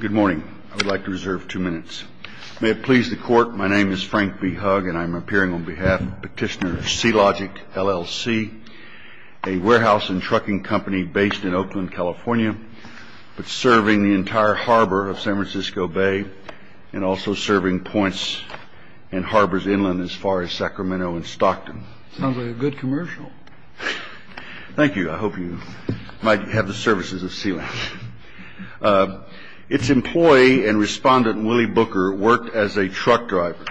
Good morning. I would like to reserve two minutes. May it please the Court, my name is Frank B. Hugg, and I'm appearing on behalf of Petitioner C-Logix, LLC, a warehouse and trucking company based in Oakland, California, but serving the entire harbor of San Francisco Bay and also serving points and harbors inland as far as Sacramento and Stockton. Sounds like a good commercial. Thank you. I hope you might have the services of Sealink. Its employee and respondent, Willie Booker, worked as a truck driver.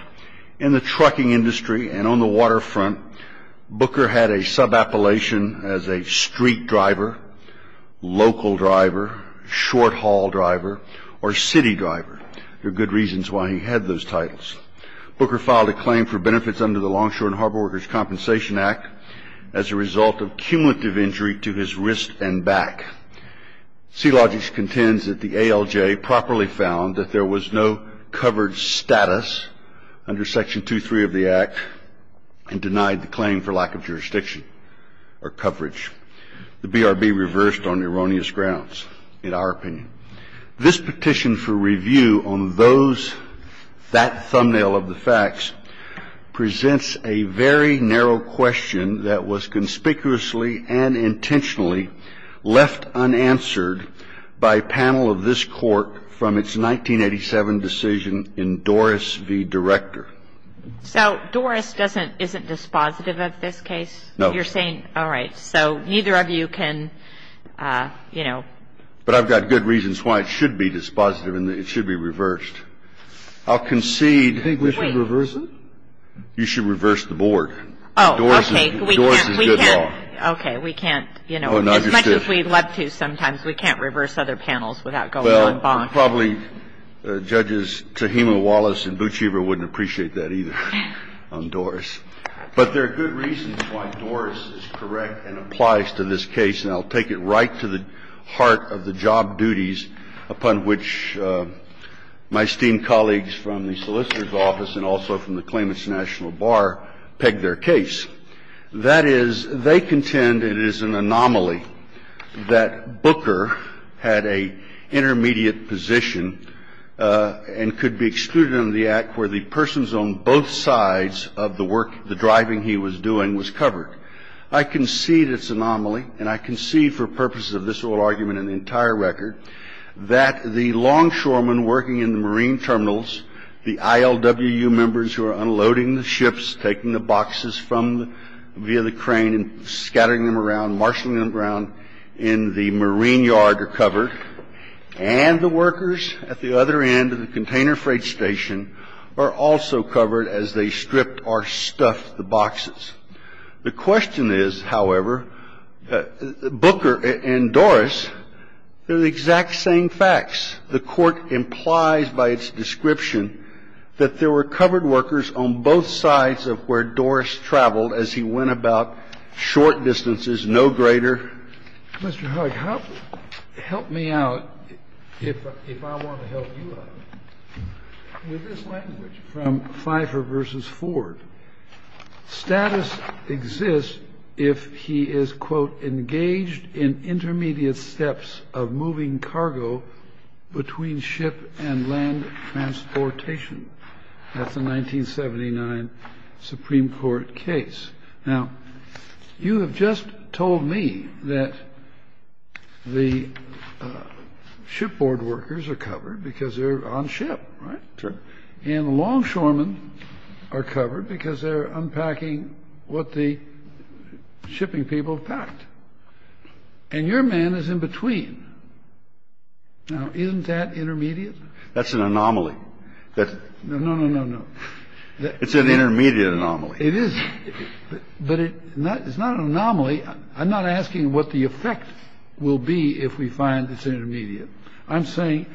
In the trucking industry and on the waterfront, Booker had a subappellation as a street driver, local driver, short-haul driver, or city driver. There are good reasons why he had those titles. Booker filed a claim for benefits under the Longshore and Harbor Workers' Compensation Act as a result of cumulative injury to his wrist and back. C-Logix contends that the ALJ properly found that there was no covered status under Section 2.3 of the Act and denied the claim for lack of jurisdiction or coverage. The BRB reversed on erroneous grounds, in our opinion. This petition for review on those, that thumbnail of the facts, presents a very narrow question that was conspicuously and intentionally left unanswered by a panel of this Court from its 1987 decision in Doris v. Director. So Doris doesn't, isn't dispositive of this case? No. You're saying, all right, so neither of you can, you know. But I've got good reasons why it should be dispositive and it should be reversed. I'll concede. Wait. You think we should reverse it? You should reverse the board. Oh, okay. Doris is good law. Okay. We can't, you know, as much as we'd love to sometimes, we can't reverse other panels without going on bond. Well, probably Judges Tehima, Wallace, and Buchiever wouldn't appreciate that either on Doris. But there are good reasons why Doris is correct and applies to this case, and I'll take it right to the heart of the job duties upon which my esteemed colleagues from the Solicitor's Office and also from the Claimants National Bar peg their case. That is, they contend it is an anomaly that Booker had an intermediate position and could be excluded under the Act where the persons on both sides of the work, the driving he was doing, was covered. I concede it's an anomaly, and I concede for purposes of this oral argument and the entire record, that the longshoremen working in the marine terminals, the ILWU members who are unloading the ships, taking the boxes from via the crane and scattering them around, marshalling them around in the marine yard, are covered, and the workers at the other end of the container freight station are also covered as they stripped or stuffed the boxes. The question is, however, Booker and Doris, they're the exact same facts. The Court implies by its description that there were covered workers on both sides of where Doris traveled as he went about short distances, no greater. Mr. Hugg, help me out, if I want to help you out, with this language from Pfeiffer versus Ford. Status exists if he is, quote, engaged in intermediate steps of moving cargo between ship and land transportation. That's a 1979 Supreme Court case. Now, you have just told me that the shipboard workers are covered because they're on ship, right? Sure. And longshoremen are covered because they're unpacking what the shipping people have packed. And your man is in between. Now, isn't that intermediate? That's an anomaly. No, no, no, no, no. It's an intermediate anomaly. It is. But it's not an anomaly. I'm not asking what the effect will be if we find it's intermediate. I'm saying,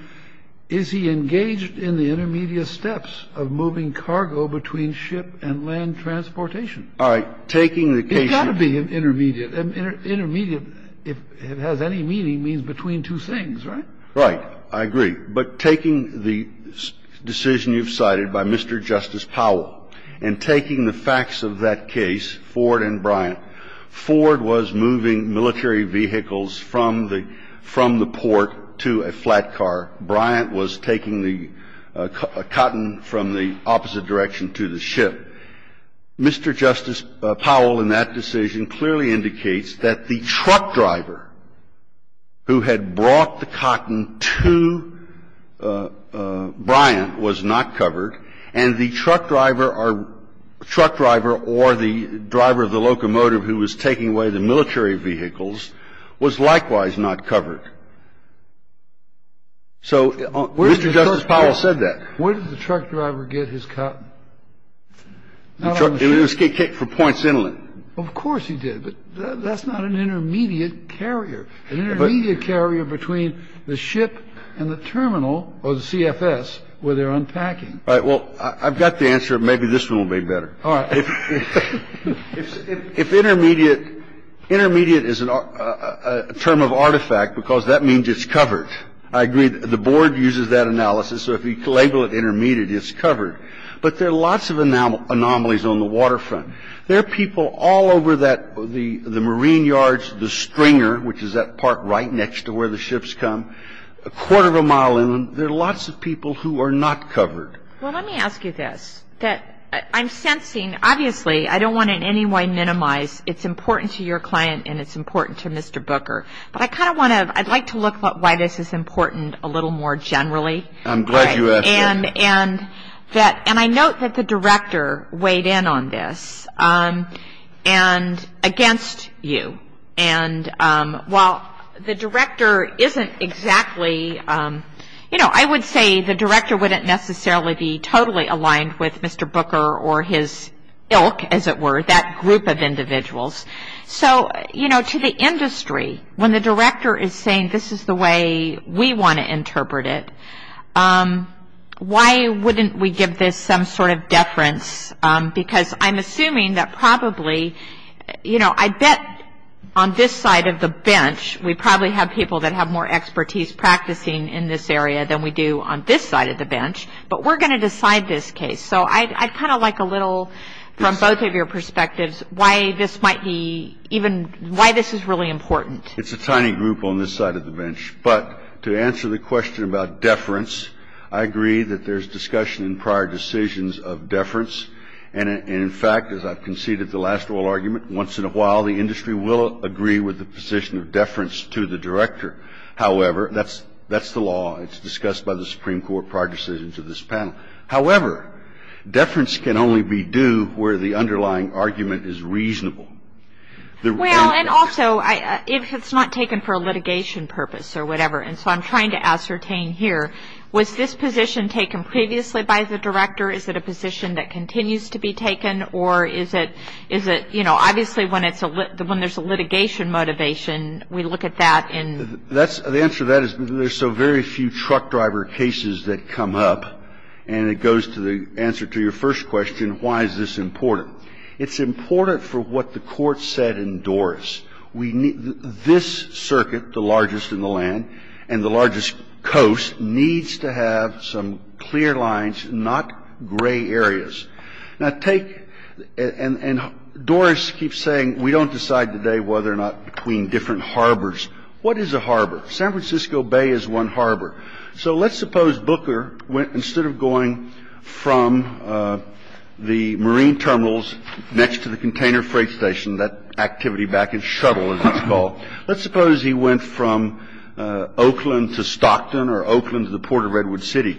is he engaged in the intermediate steps of moving cargo between ship and land transportation? All right. Taking the case you've cited. It's got to be intermediate. Intermediate, if it has any meaning, means between two things, right? Right. I agree. But taking the decision you've cited by Mr. Justice Powell and taking the facts of that case, Ford and Bryant, Ford was moving military vehicles from the port to a flat car. Bryant was taking the cotton from the opposite direction to the ship. Mr. Justice Powell in that decision clearly indicates that the truck driver who had brought the cotton to Bryant was not covered, and the truck driver or the driver of the locomotive who was taking away the military vehicles was likewise not covered. So Mr. Justice Powell said that. Where did the truck driver get his cotton? It was for points inland. Of course he did. But that's not an intermediate carrier. It's an intermediate carrier. An intermediate carrier between the ship and the terminal or the CFS where they're unpacking. All right. Well, I've got the answer. Maybe this one will be better. All right. If intermediate is a term of artifact because that means it's covered, I agree. The board uses that analysis. So if you label it intermediate, it's covered. But there are lots of anomalies on the waterfront. There are people all over the marine yards, the stringer, which is that part right next to where the ships come, a quarter of a mile inland. There are lots of people who are not covered. Well, let me ask you this. I'm sensing, obviously, I don't want to in any way minimize it's important to your client and it's important to Mr. Booker. But I'd like to look at why this is important a little more generally. I'm glad you asked that. And I note that the director weighed in on this and against you. And while the director isn't exactly, you know, I would say the director wouldn't necessarily be totally aligned with Mr. Booker or his ilk, as it were, that group of individuals. So, you know, to the industry, when the director is saying this is the way we want to interpret it, why wouldn't we give this some sort of deference? Because I'm assuming that probably, you know, I bet on this side of the bench, we probably have people that have more expertise practicing in this area than we do on this side of the bench. But we're going to decide this case. So I'd kind of like a little from both of your perspectives why this might be even why this is really important. It's a tiny group on this side of the bench. But to answer the question about deference, I agree that there's discussion in prior decisions of deference. And in fact, as I've conceded the last oral argument, once in a while the industry will agree with the position of deference to the director. However, that's the law. It's discussed by the Supreme Court prior decisions of this panel. However, deference can only be due where the underlying argument is reasonable. And also, if it's not taken for a litigation purpose or whatever, and so I'm trying to ascertain here, was this position taken previously by the director? Is it a position that continues to be taken? Or is it, you know, obviously when there's a litigation motivation, we look at that and the answer to that is There's so very few truck driver cases that come up, and it goes to the answer to your first question, why is this important? It's important for what the Court said in Doris. We need this circuit, the largest in the land and the largest coast, needs to have some clear lines, not gray areas. Now, take and Doris keeps saying we don't decide today whether or not between different harbors. What is a harbor? San Francisco Bay is one harbor. So let's suppose Booker, instead of going from the marine terminals next to the container freight station, that activity back in shuttle, as it's called, let's suppose he went from Oakland to Stockton or Oakland to the port of Redwood City.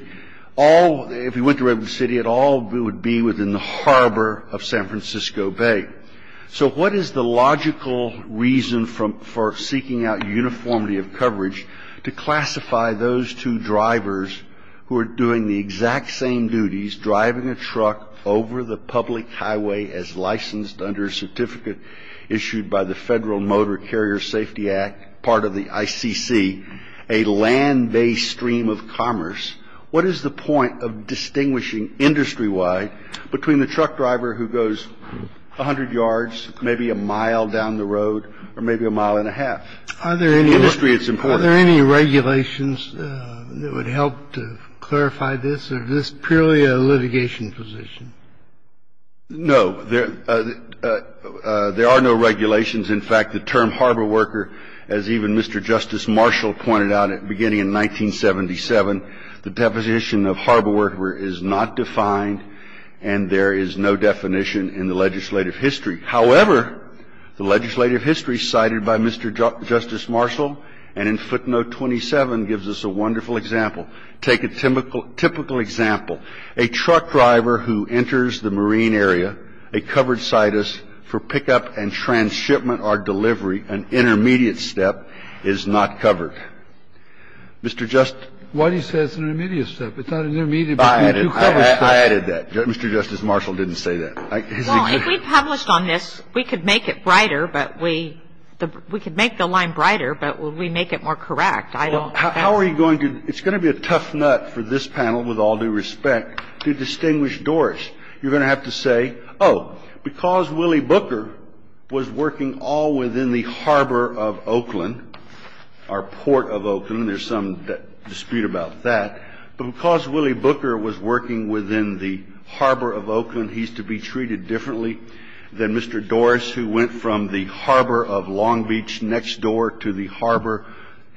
If he went to Redwood City, it all would be within the harbor of San Francisco Bay. So what is the logical reason for seeking out uniformity of coverage to classify those two drivers who are doing the exact same duties, driving a truck over the public highway as licensed under a certificate issued by the Federal Motor Carrier Safety Act, part of the ICC, a land-based stream of commerce? And the question is, what is the point of distinguishing industry-wide between the truck driver who goes 100 yards, maybe a mile down the road, or maybe a mile and a half? In industry, it's important. Are there any regulations that would help to clarify this? Or is this purely a litigation position? No. There are no regulations. In fact, the term harbor worker, as even Mr. Justice Marshall pointed out at the beginning in 1977, the deposition of harbor worker is not defined, and there is no definition in the legislative history. However, the legislative history cited by Mr. Justice Marshall and in footnote 27 gives us a wonderful example. Take a typical example. A truck driver who enters the marine area, a covered situs for pickup and transshipment or delivery, an intermediate step, is not covered. Mr. Justice? Why do you say it's an intermediate step? It's not an intermediate step. I added that. Mr. Justice Marshall didn't say that. Well, if we published on this, we could make it brighter, but we — we could make the line brighter, but would we make it more correct? How are you going to — it's going to be a tough nut for this panel, with all due respect, to distinguish doors. You're going to have to say, oh, because Willie Booker was working all within the harbor of Oakland, our port of Oakland, there's some dispute about that. But because Willie Booker was working within the harbor of Oakland, he's to be treated differently than Mr. Dorris, who went from the harbor of Long Beach next door to the harbor,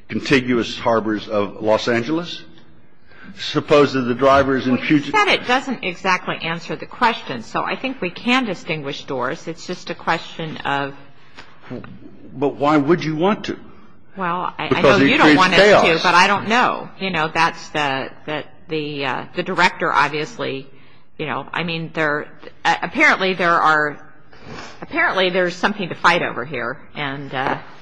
contiguous harbors of Los Angeles? Suppose that the drivers in Puget — Well, you said it doesn't exactly answer the question, so I think we can distinguish doors. It's just a question of — But why would you want to? Well, I know you don't want us to, but I don't know. You know, that's the — the director, obviously, you know. I mean, there — apparently, there are — apparently, there's something to fight over here. And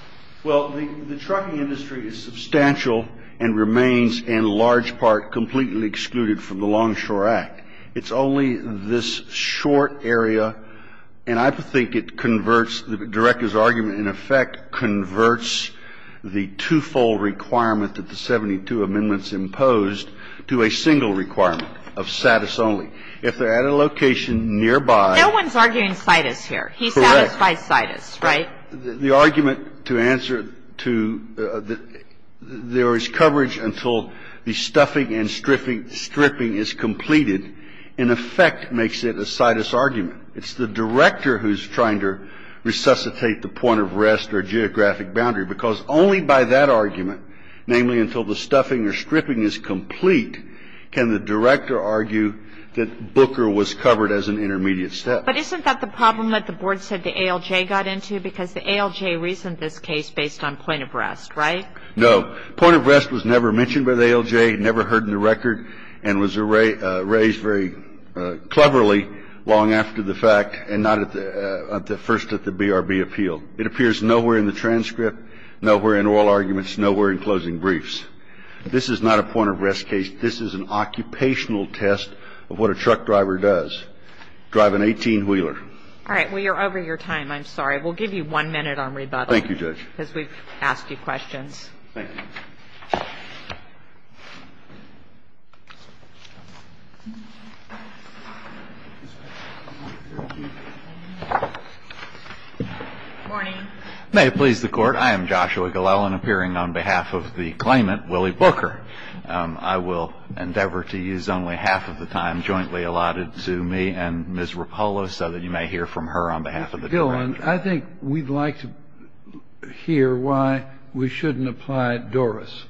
— Well, the trucking industry is substantial and remains, in large part, completely excluded from the Longshore Act. It's only this short area, and I think it converts — the director's argument, in effect, converts the twofold requirement that the 72 amendments imposed to a single requirement of status only. If they're at a location nearby — No one's arguing situs here. Correct. He satisfies situs, right? The argument to answer to — there is coverage until the stuffing and stripping is completed, in effect, makes it a situs argument. It's the director who's trying to resuscitate the point of rest or geographic boundary, because only by that argument, namely until the stuffing or stripping is complete, can the director argue that Booker was covered as an intermediate step. But isn't that the problem that the board said the ALJ got into? Because the ALJ reasoned this case based on point of rest, right? No. Point of rest was never mentioned by the ALJ, never heard in the record, and was raised very cleverly long after the fact and not at the — first at the BRB appeal. It appears nowhere in the transcript, nowhere in oral arguments, nowhere in closing briefs. This is not a point of rest case. This is an occupational test of what a truck driver does. Drive an 18-wheeler. All right. Well, you're over your time. I'm sorry. We'll give you one minute on rebuttal. Thank you, Judge. Because we've asked you questions. Thank you. Good morning. May it please the Court. I am Joshua Gillelan, appearing on behalf of the claimant, Willie Booker. I will endeavor to use only half of the time jointly allotted to me and Ms. Rapolo so that you may hear from her on behalf of the director. Mr. Gillelan, I think we'd like to hear why we shouldn't apply DORIS.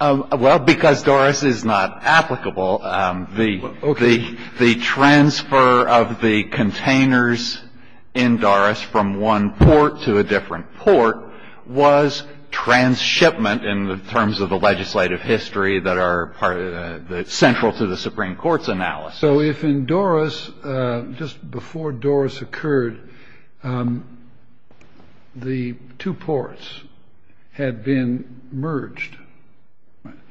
Well, because DORIS is not applicable. Okay. The transfer of the containers in DORIS from one port to a different port was transshipment in terms of the legislative history that are central to the Supreme Court's analysis. So if in DORIS, just before DORIS occurred, the two ports had been merged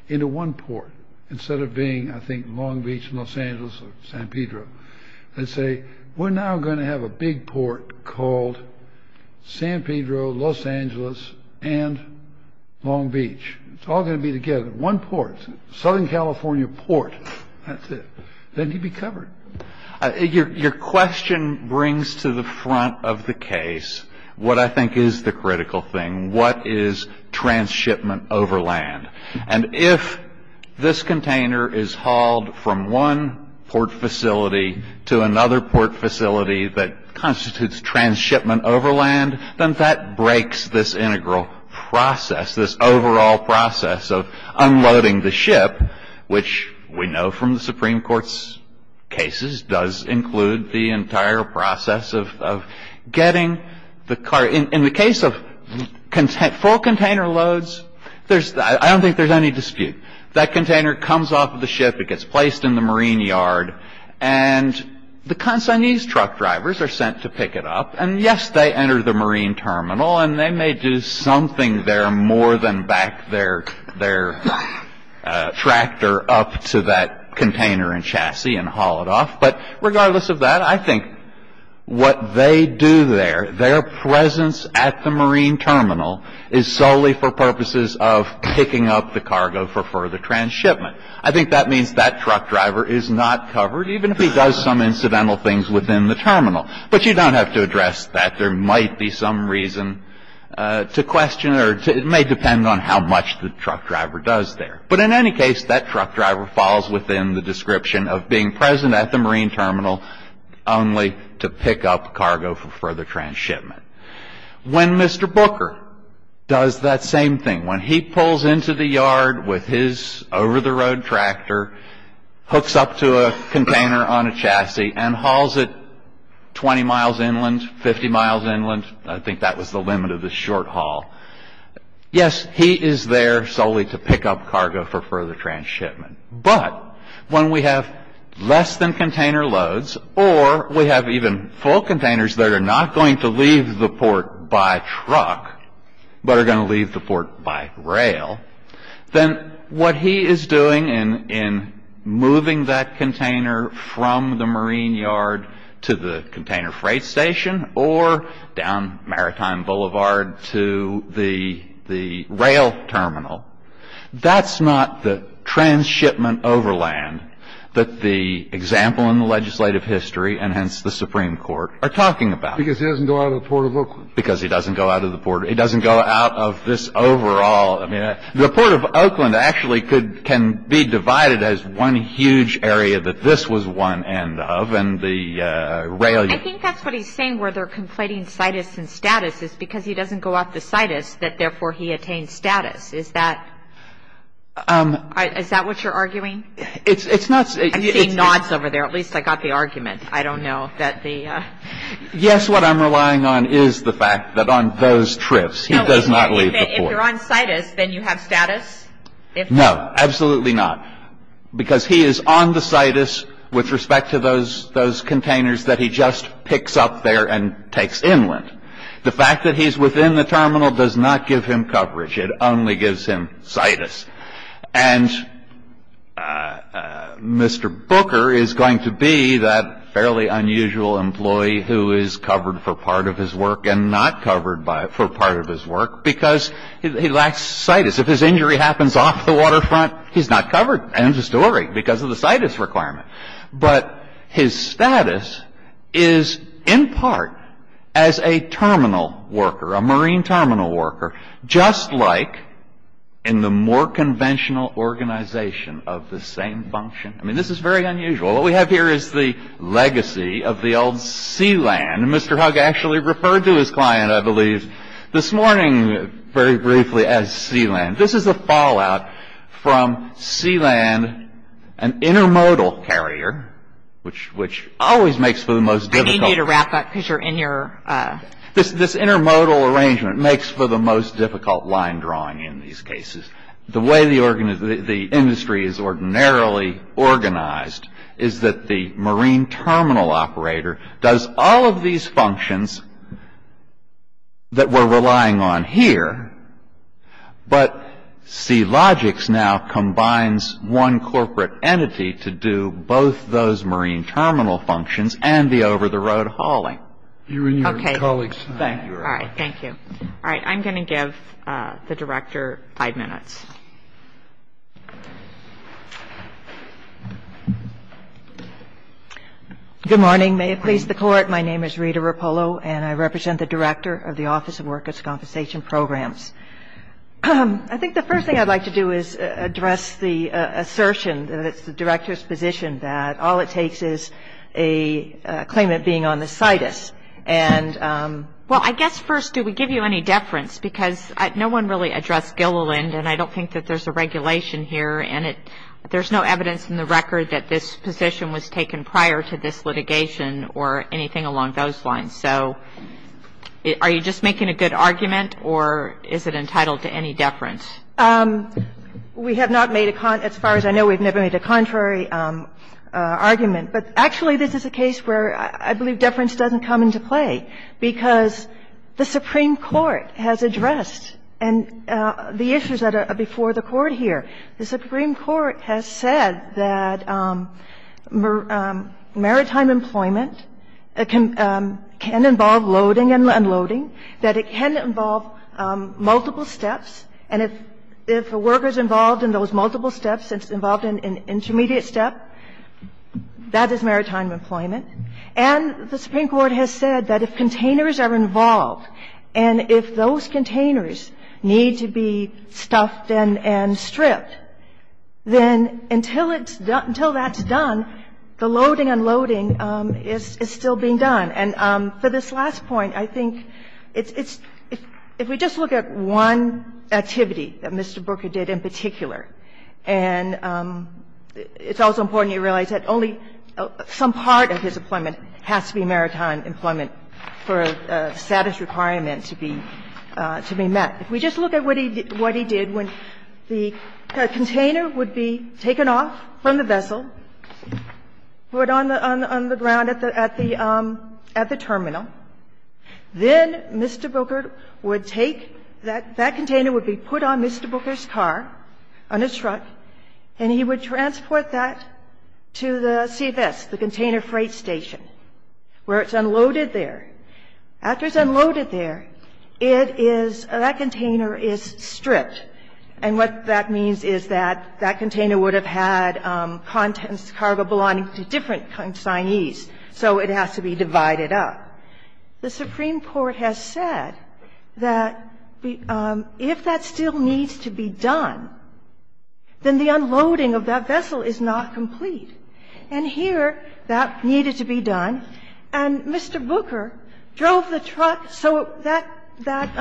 into one port, instead of being, I think, Long Beach, Los Angeles, or San Pedro. Let's say we're now going to have a big port called San Pedro, Los Angeles, and Long Beach. It's all going to be together. One port. Southern California port. That's it. Then you'd be covered. Your question brings to the front of the case what I think is the critical thing. What is transshipment over land? And if this container is hauled from one port facility to another port facility that constitutes transshipment over land, then that breaks this integral process, this overall process of unloading the ship, which we know from the Supreme Court's cases does include the entire process of getting the car. In the case of full container loads, I don't think there's any dispute. That container comes off the ship. It gets placed in the marine yard. And the consignee's truck drivers are sent to pick it up. And, yes, they enter the marine terminal, and they may do something there more than back their tractor up to that container and chassis and haul it off. But regardless of that, I think what they do there, their presence at the marine terminal, is solely for purposes of picking up the cargo for further transshipment. I think that means that truck driver is not covered, even if he does some incidental things within the terminal. But you don't have to address that. There might be some reason to question it, or it may depend on how much the truck driver does there. But in any case, that truck driver falls within the description of being present at the marine terminal only to pick up cargo for further transshipment. When Mr. Booker does that same thing, when he pulls into the yard with his over-the-road tractor, hooks up to a container on a chassis, and hauls it 20 miles inland, 50 miles inland, I think that was the limit of the short haul. Yes, he is there solely to pick up cargo for further transshipment. But when we have less than container loads, or we have even full containers that are not going to leave the port by truck, but are going to leave the port by rail, then what he is doing in moving that container from the marine yard to the container freight station or down Maritime Boulevard to the rail terminal, that's not the transshipment overland that the example in the legislative history, and hence the Supreme Court, are talking about. Because he doesn't go out of the port. He doesn't go out of this overall. The Port of Oakland actually can be divided as one huge area that this was one end of, and the rail. I think that's what he's saying where they're conflating situs and status, is because he doesn't go off the situs, that therefore he attains status. Is that what you're arguing? I'm seeing nods over there. At least I got the argument. I don't know that the... Yes, what I'm relying on is the fact that on those trips, he does not leave the port. If you're on situs, then you have status? No, absolutely not. Because he is on the situs with respect to those containers that he just picks up there and takes inland. The fact that he's within the terminal does not give him coverage. It only gives him situs. And Mr. Booker is going to be that fairly unusual employee who is covered for part of his work and not covered for part of his work because he lacks situs. If his injury happens off the waterfront, he's not covered. End of story, because of the situs requirement. But his status is in part as a terminal worker, a marine terminal worker, just like in the more conventional organization of the same function. I mean, this is very unusual. What we have here is the legacy of the old sea land. Mr. Hugg actually referred to his client, I believe, this morning very briefly as sea land. This is a fallout from sea land, an intermodal carrier, which always makes for the most difficult. I need you to wrap up because you're in your... This intermodal arrangement makes for the most difficult line drawing in these cases. The way the industry is ordinarily organized is that the marine terminal operator does all of these functions that we're relying on here, but SeaLogix now combines one corporate entity to do both those marine terminal functions and the over-the-road hauling. Okay. Thank you. All right. Thank you. All right. I'm going to give the Director five minutes. Good morning. May it please the Court. My name is Rita Rapolo, and I represent the Director of the Office of Workers' Compensation Programs. I think the first thing I'd like to do is address the assertion that it's the Director's position that all it takes is a claimant being on the situs. And... Well, I guess first, do we give you any deference? I think that there's a regulation here, and there's no evidence in the record that this position was taken prior to this litigation or anything along those lines. So are you just making a good argument, or is it entitled to any deference? We have not made a con... As far as I know, we've never made a contrary argument. But actually, this is a case where I believe deference doesn't come into play, because the Supreme Court has addressed the issues that are before the Court here. The Supreme Court has said that maritime employment can involve loading and unloading, that it can involve multiple steps, and if a worker's involved in those multiple steps, it's involved in an intermediate step, that is maritime employment. And the Supreme Court has said that if containers are involved, and if those containers need to be stuffed and stripped, then until it's done, until that's done, the loading and unloading is still being done. And for this last point, I think it's – if we just look at one activity that Mr. Booker was involved in, and I'm not going to go into the details of this, but I think it's important to note that this employment has to be maritime employment for a status requirement to be met. If we just look at what he did, when the container would be taken off from the vessel, put on the ground at the terminal, then Mr. Booker would take that container would be put on Mr. Booker's car, on his truck, and he would transport that to the CFS, the Container Freight Station, where it's unloaded there. After it's unloaded there, it is – that container is stripped, and what that means is that that container would have had contents – cargo belonging to different consignees, so it has to be divided up. The Supreme Court has said that if that still needs to be done, then the unloading of that vessel is not complete. And here that needed to be done, and Mr. Booker drove the truck so that that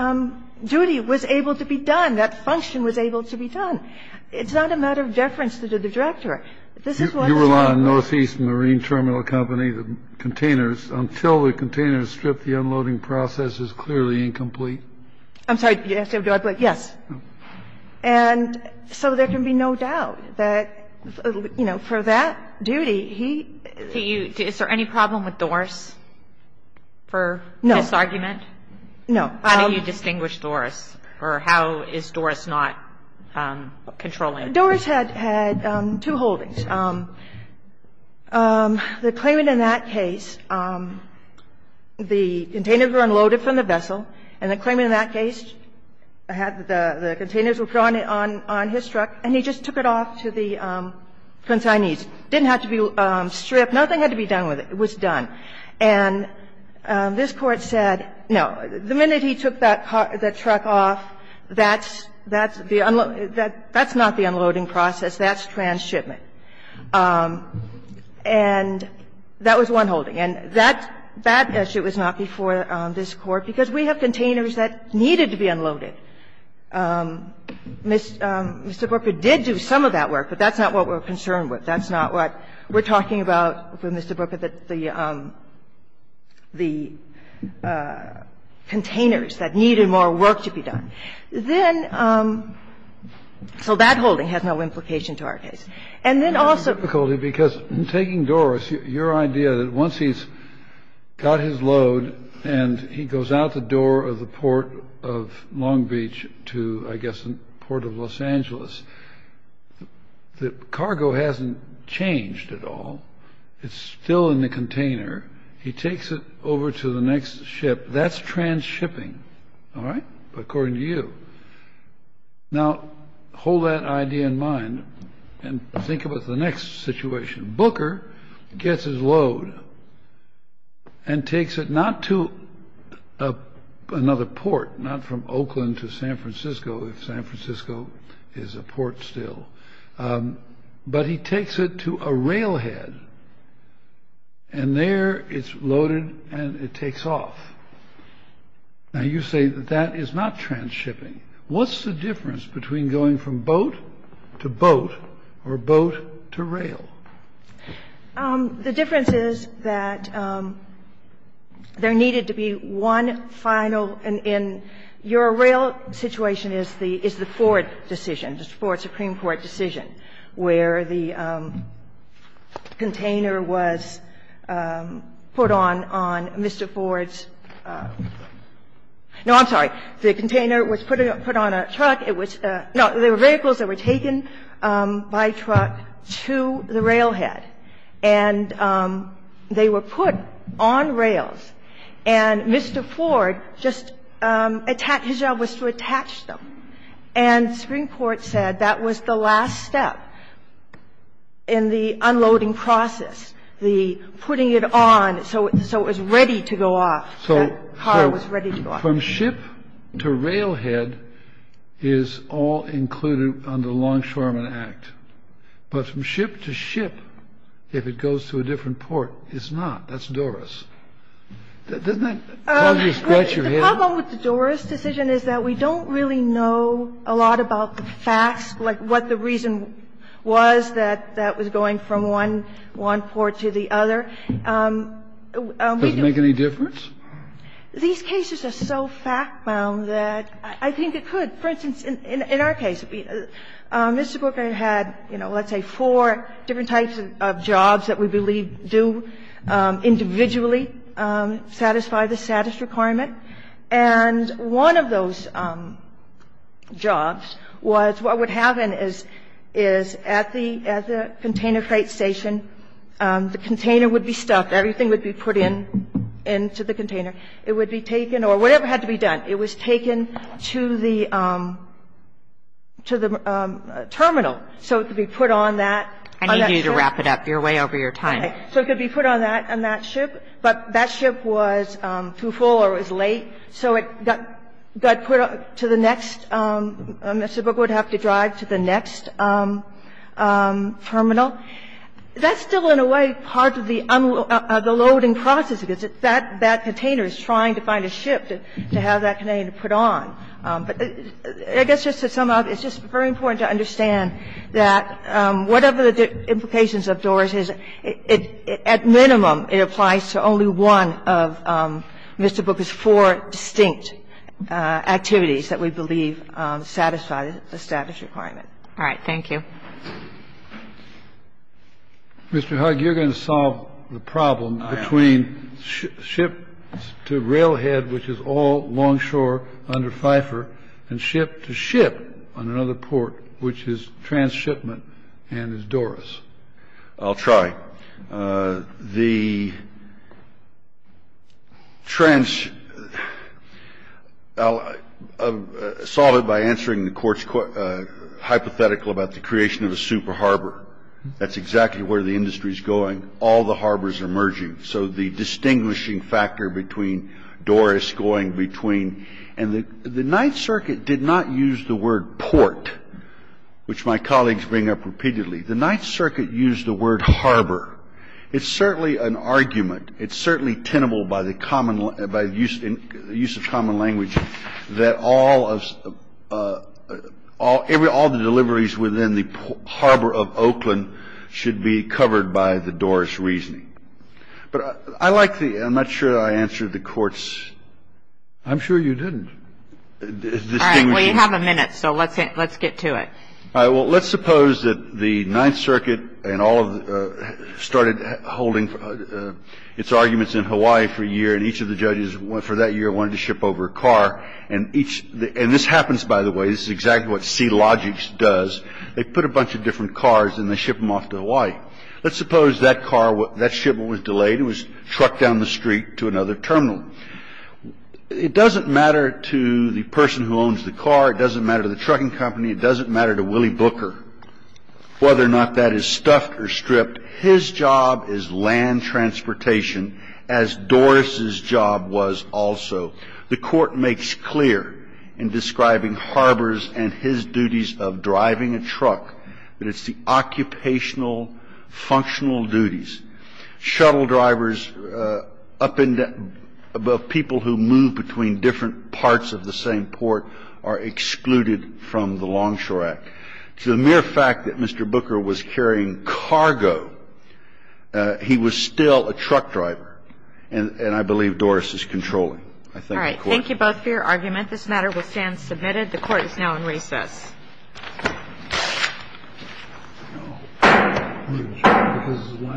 duty was able to be done. That function was able to be done. It's not a matter of deference to the Director. This is what is happening. Kennedy. You rely on Northeast Marine Terminal Company, the containers. Until the containers strip, the unloading process is clearly incomplete. I'm sorry. Yes. And so there can be no doubt that, you know, for that duty, he – Is there any problem with Doris for this argument? No. No. How do you distinguish Doris, or how is Doris not controlling? Doris had two holdings. The claimant in that case, the containers were unloaded from the vessel, and the claimant in that case had the containers withdrawn on his truck, and he just took it off to the consignees. It didn't have to be stripped. Nothing had to be done with it. It was done. And this Court said, no, the minute he took that truck off, that's the unloading – that's not the unloading process. That's transshipment. And that was one holding. And that issue was not before this Court, because we have containers that needed to be unloaded. Mr. Brooker did do some of that work, but that's not what we're concerned with. That's not what we're talking about with Mr. Brooker, the containers that needed more work to be done. Then so that holding has no implication to our case. And then also the difficulty, because taking Doris, your idea that once he's got his load and he goes out the door of the port of Long Beach to, I guess, the port of Los Angeles, the cargo hasn't changed at all. It's still in the container. He takes it over to the next ship. That's transshipping, all right, according to you. Now, hold that idea in mind and think about the next situation. Booker gets his load and takes it not to another port, not from Oakland to San Francisco, if San Francisco is a port still, but he takes it to a railhead. And there it's loaded and it takes off. Now, you say that that is not transshipping. What's the difference between going from boat to boat or boat to rail? The difference is that there needed to be one final and your rail situation is the Ford decision, the Ford Supreme Court decision, where the container was put on on Mr. Ford's – no, I'm sorry. The container was put on a truck. It was – no, there were vehicles that were taken by truck to the railhead. And they were put on rails, and Mr. Ford just attached – his job was to attach them, and the Supreme Court said that was the last step in the unloading process, the putting it on so it was ready to go off, that car was ready to go off. So from ship to railhead is all included under the Longshoreman Act. But from ship to ship, if it goes to a different port, it's not. That's Doris. Doesn't that cause you to scratch your head? How about with the Doris decision is that we don't really know a lot about the facts, like what the reason was that that was going from one port to the other. Does it make any difference? These cases are so fact-bound that I think it could. For instance, in our case, Mr. Corker had, you know, let's say four different types of jobs that we believe do individually satisfy the status requirement. And one of those jobs was what would happen is at the container freight station, the container would be stuck. Everything would be put into the container. It would be taken – or whatever had to be done. It was taken to the terminal so it could be put on that – I need you to wrap it up. You're way over your time. Okay. So it could be put on that ship. But that ship was too full or was late, so it got put to the next – Mr. Corker would have to drive to the next terminal. That's still in a way part of the loading process, because that container is trying to find a ship to have that container put on. But I guess just to sum up, it's just very important to understand that whatever the implications of DOORS is, at minimum, it applies to only one of Mr. Booker's four distinct activities that we believe satisfy the status requirement. All right. Thank you. Mr. Hug, you're going to solve the problem between ships to railhead, which is all along shore under Pfeiffer, and ship to ship on another port, which is trans-shipment and is DOORS. I'll try. The trans – I'll solve it by answering the court's hypothetical about the creation of a super harbor. That's exactly where the industry is going. All the harbors are merging. So the distinguishing factor between DOORS going between – and the Ninth Circuit did not use the word port, which my colleagues bring up repeatedly. The Ninth Circuit used the word harbor. It's certainly an argument. It's certainly tenable by the common – by use of common language that all of – all the deliveries within the harbor of Oakland should be covered by the DOORS reasoning. But I like the – I'm not sure that I answered the court's – I'm sure you didn't. All right. We have a minute, so let's get to it. All right. Well, let's suppose that the Ninth Circuit and all of the – started holding its arguments in Hawaii for a year, and each of the judges for that year wanted to ship over a car. And each – and this happens, by the way. This is exactly what SeaLogix does. They put a bunch of different cars, and they ship them off to Hawaii. Let's suppose that car – that shipment was delayed. It was trucked down the street to another terminal. It doesn't matter to the person who owns the car. It doesn't matter to the trucking company. It doesn't matter to Willie Booker whether or not that is stuffed or stripped. His job is land transportation, as DOORS's job was also. The Court makes clear in describing harbors and his duties of driving a truck that it's the occupational, functional duties. Shuttle drivers up in – people who move between different parts of the same port are excluded from the Longshore Act. To the mere fact that Mr. Booker was carrying cargo, he was still a truck driver, and I believe DOORS is controlling. I thank the Court. All right. Thank you both for your argument. This matter will stand submitted. The Court is now in recess. Thank you.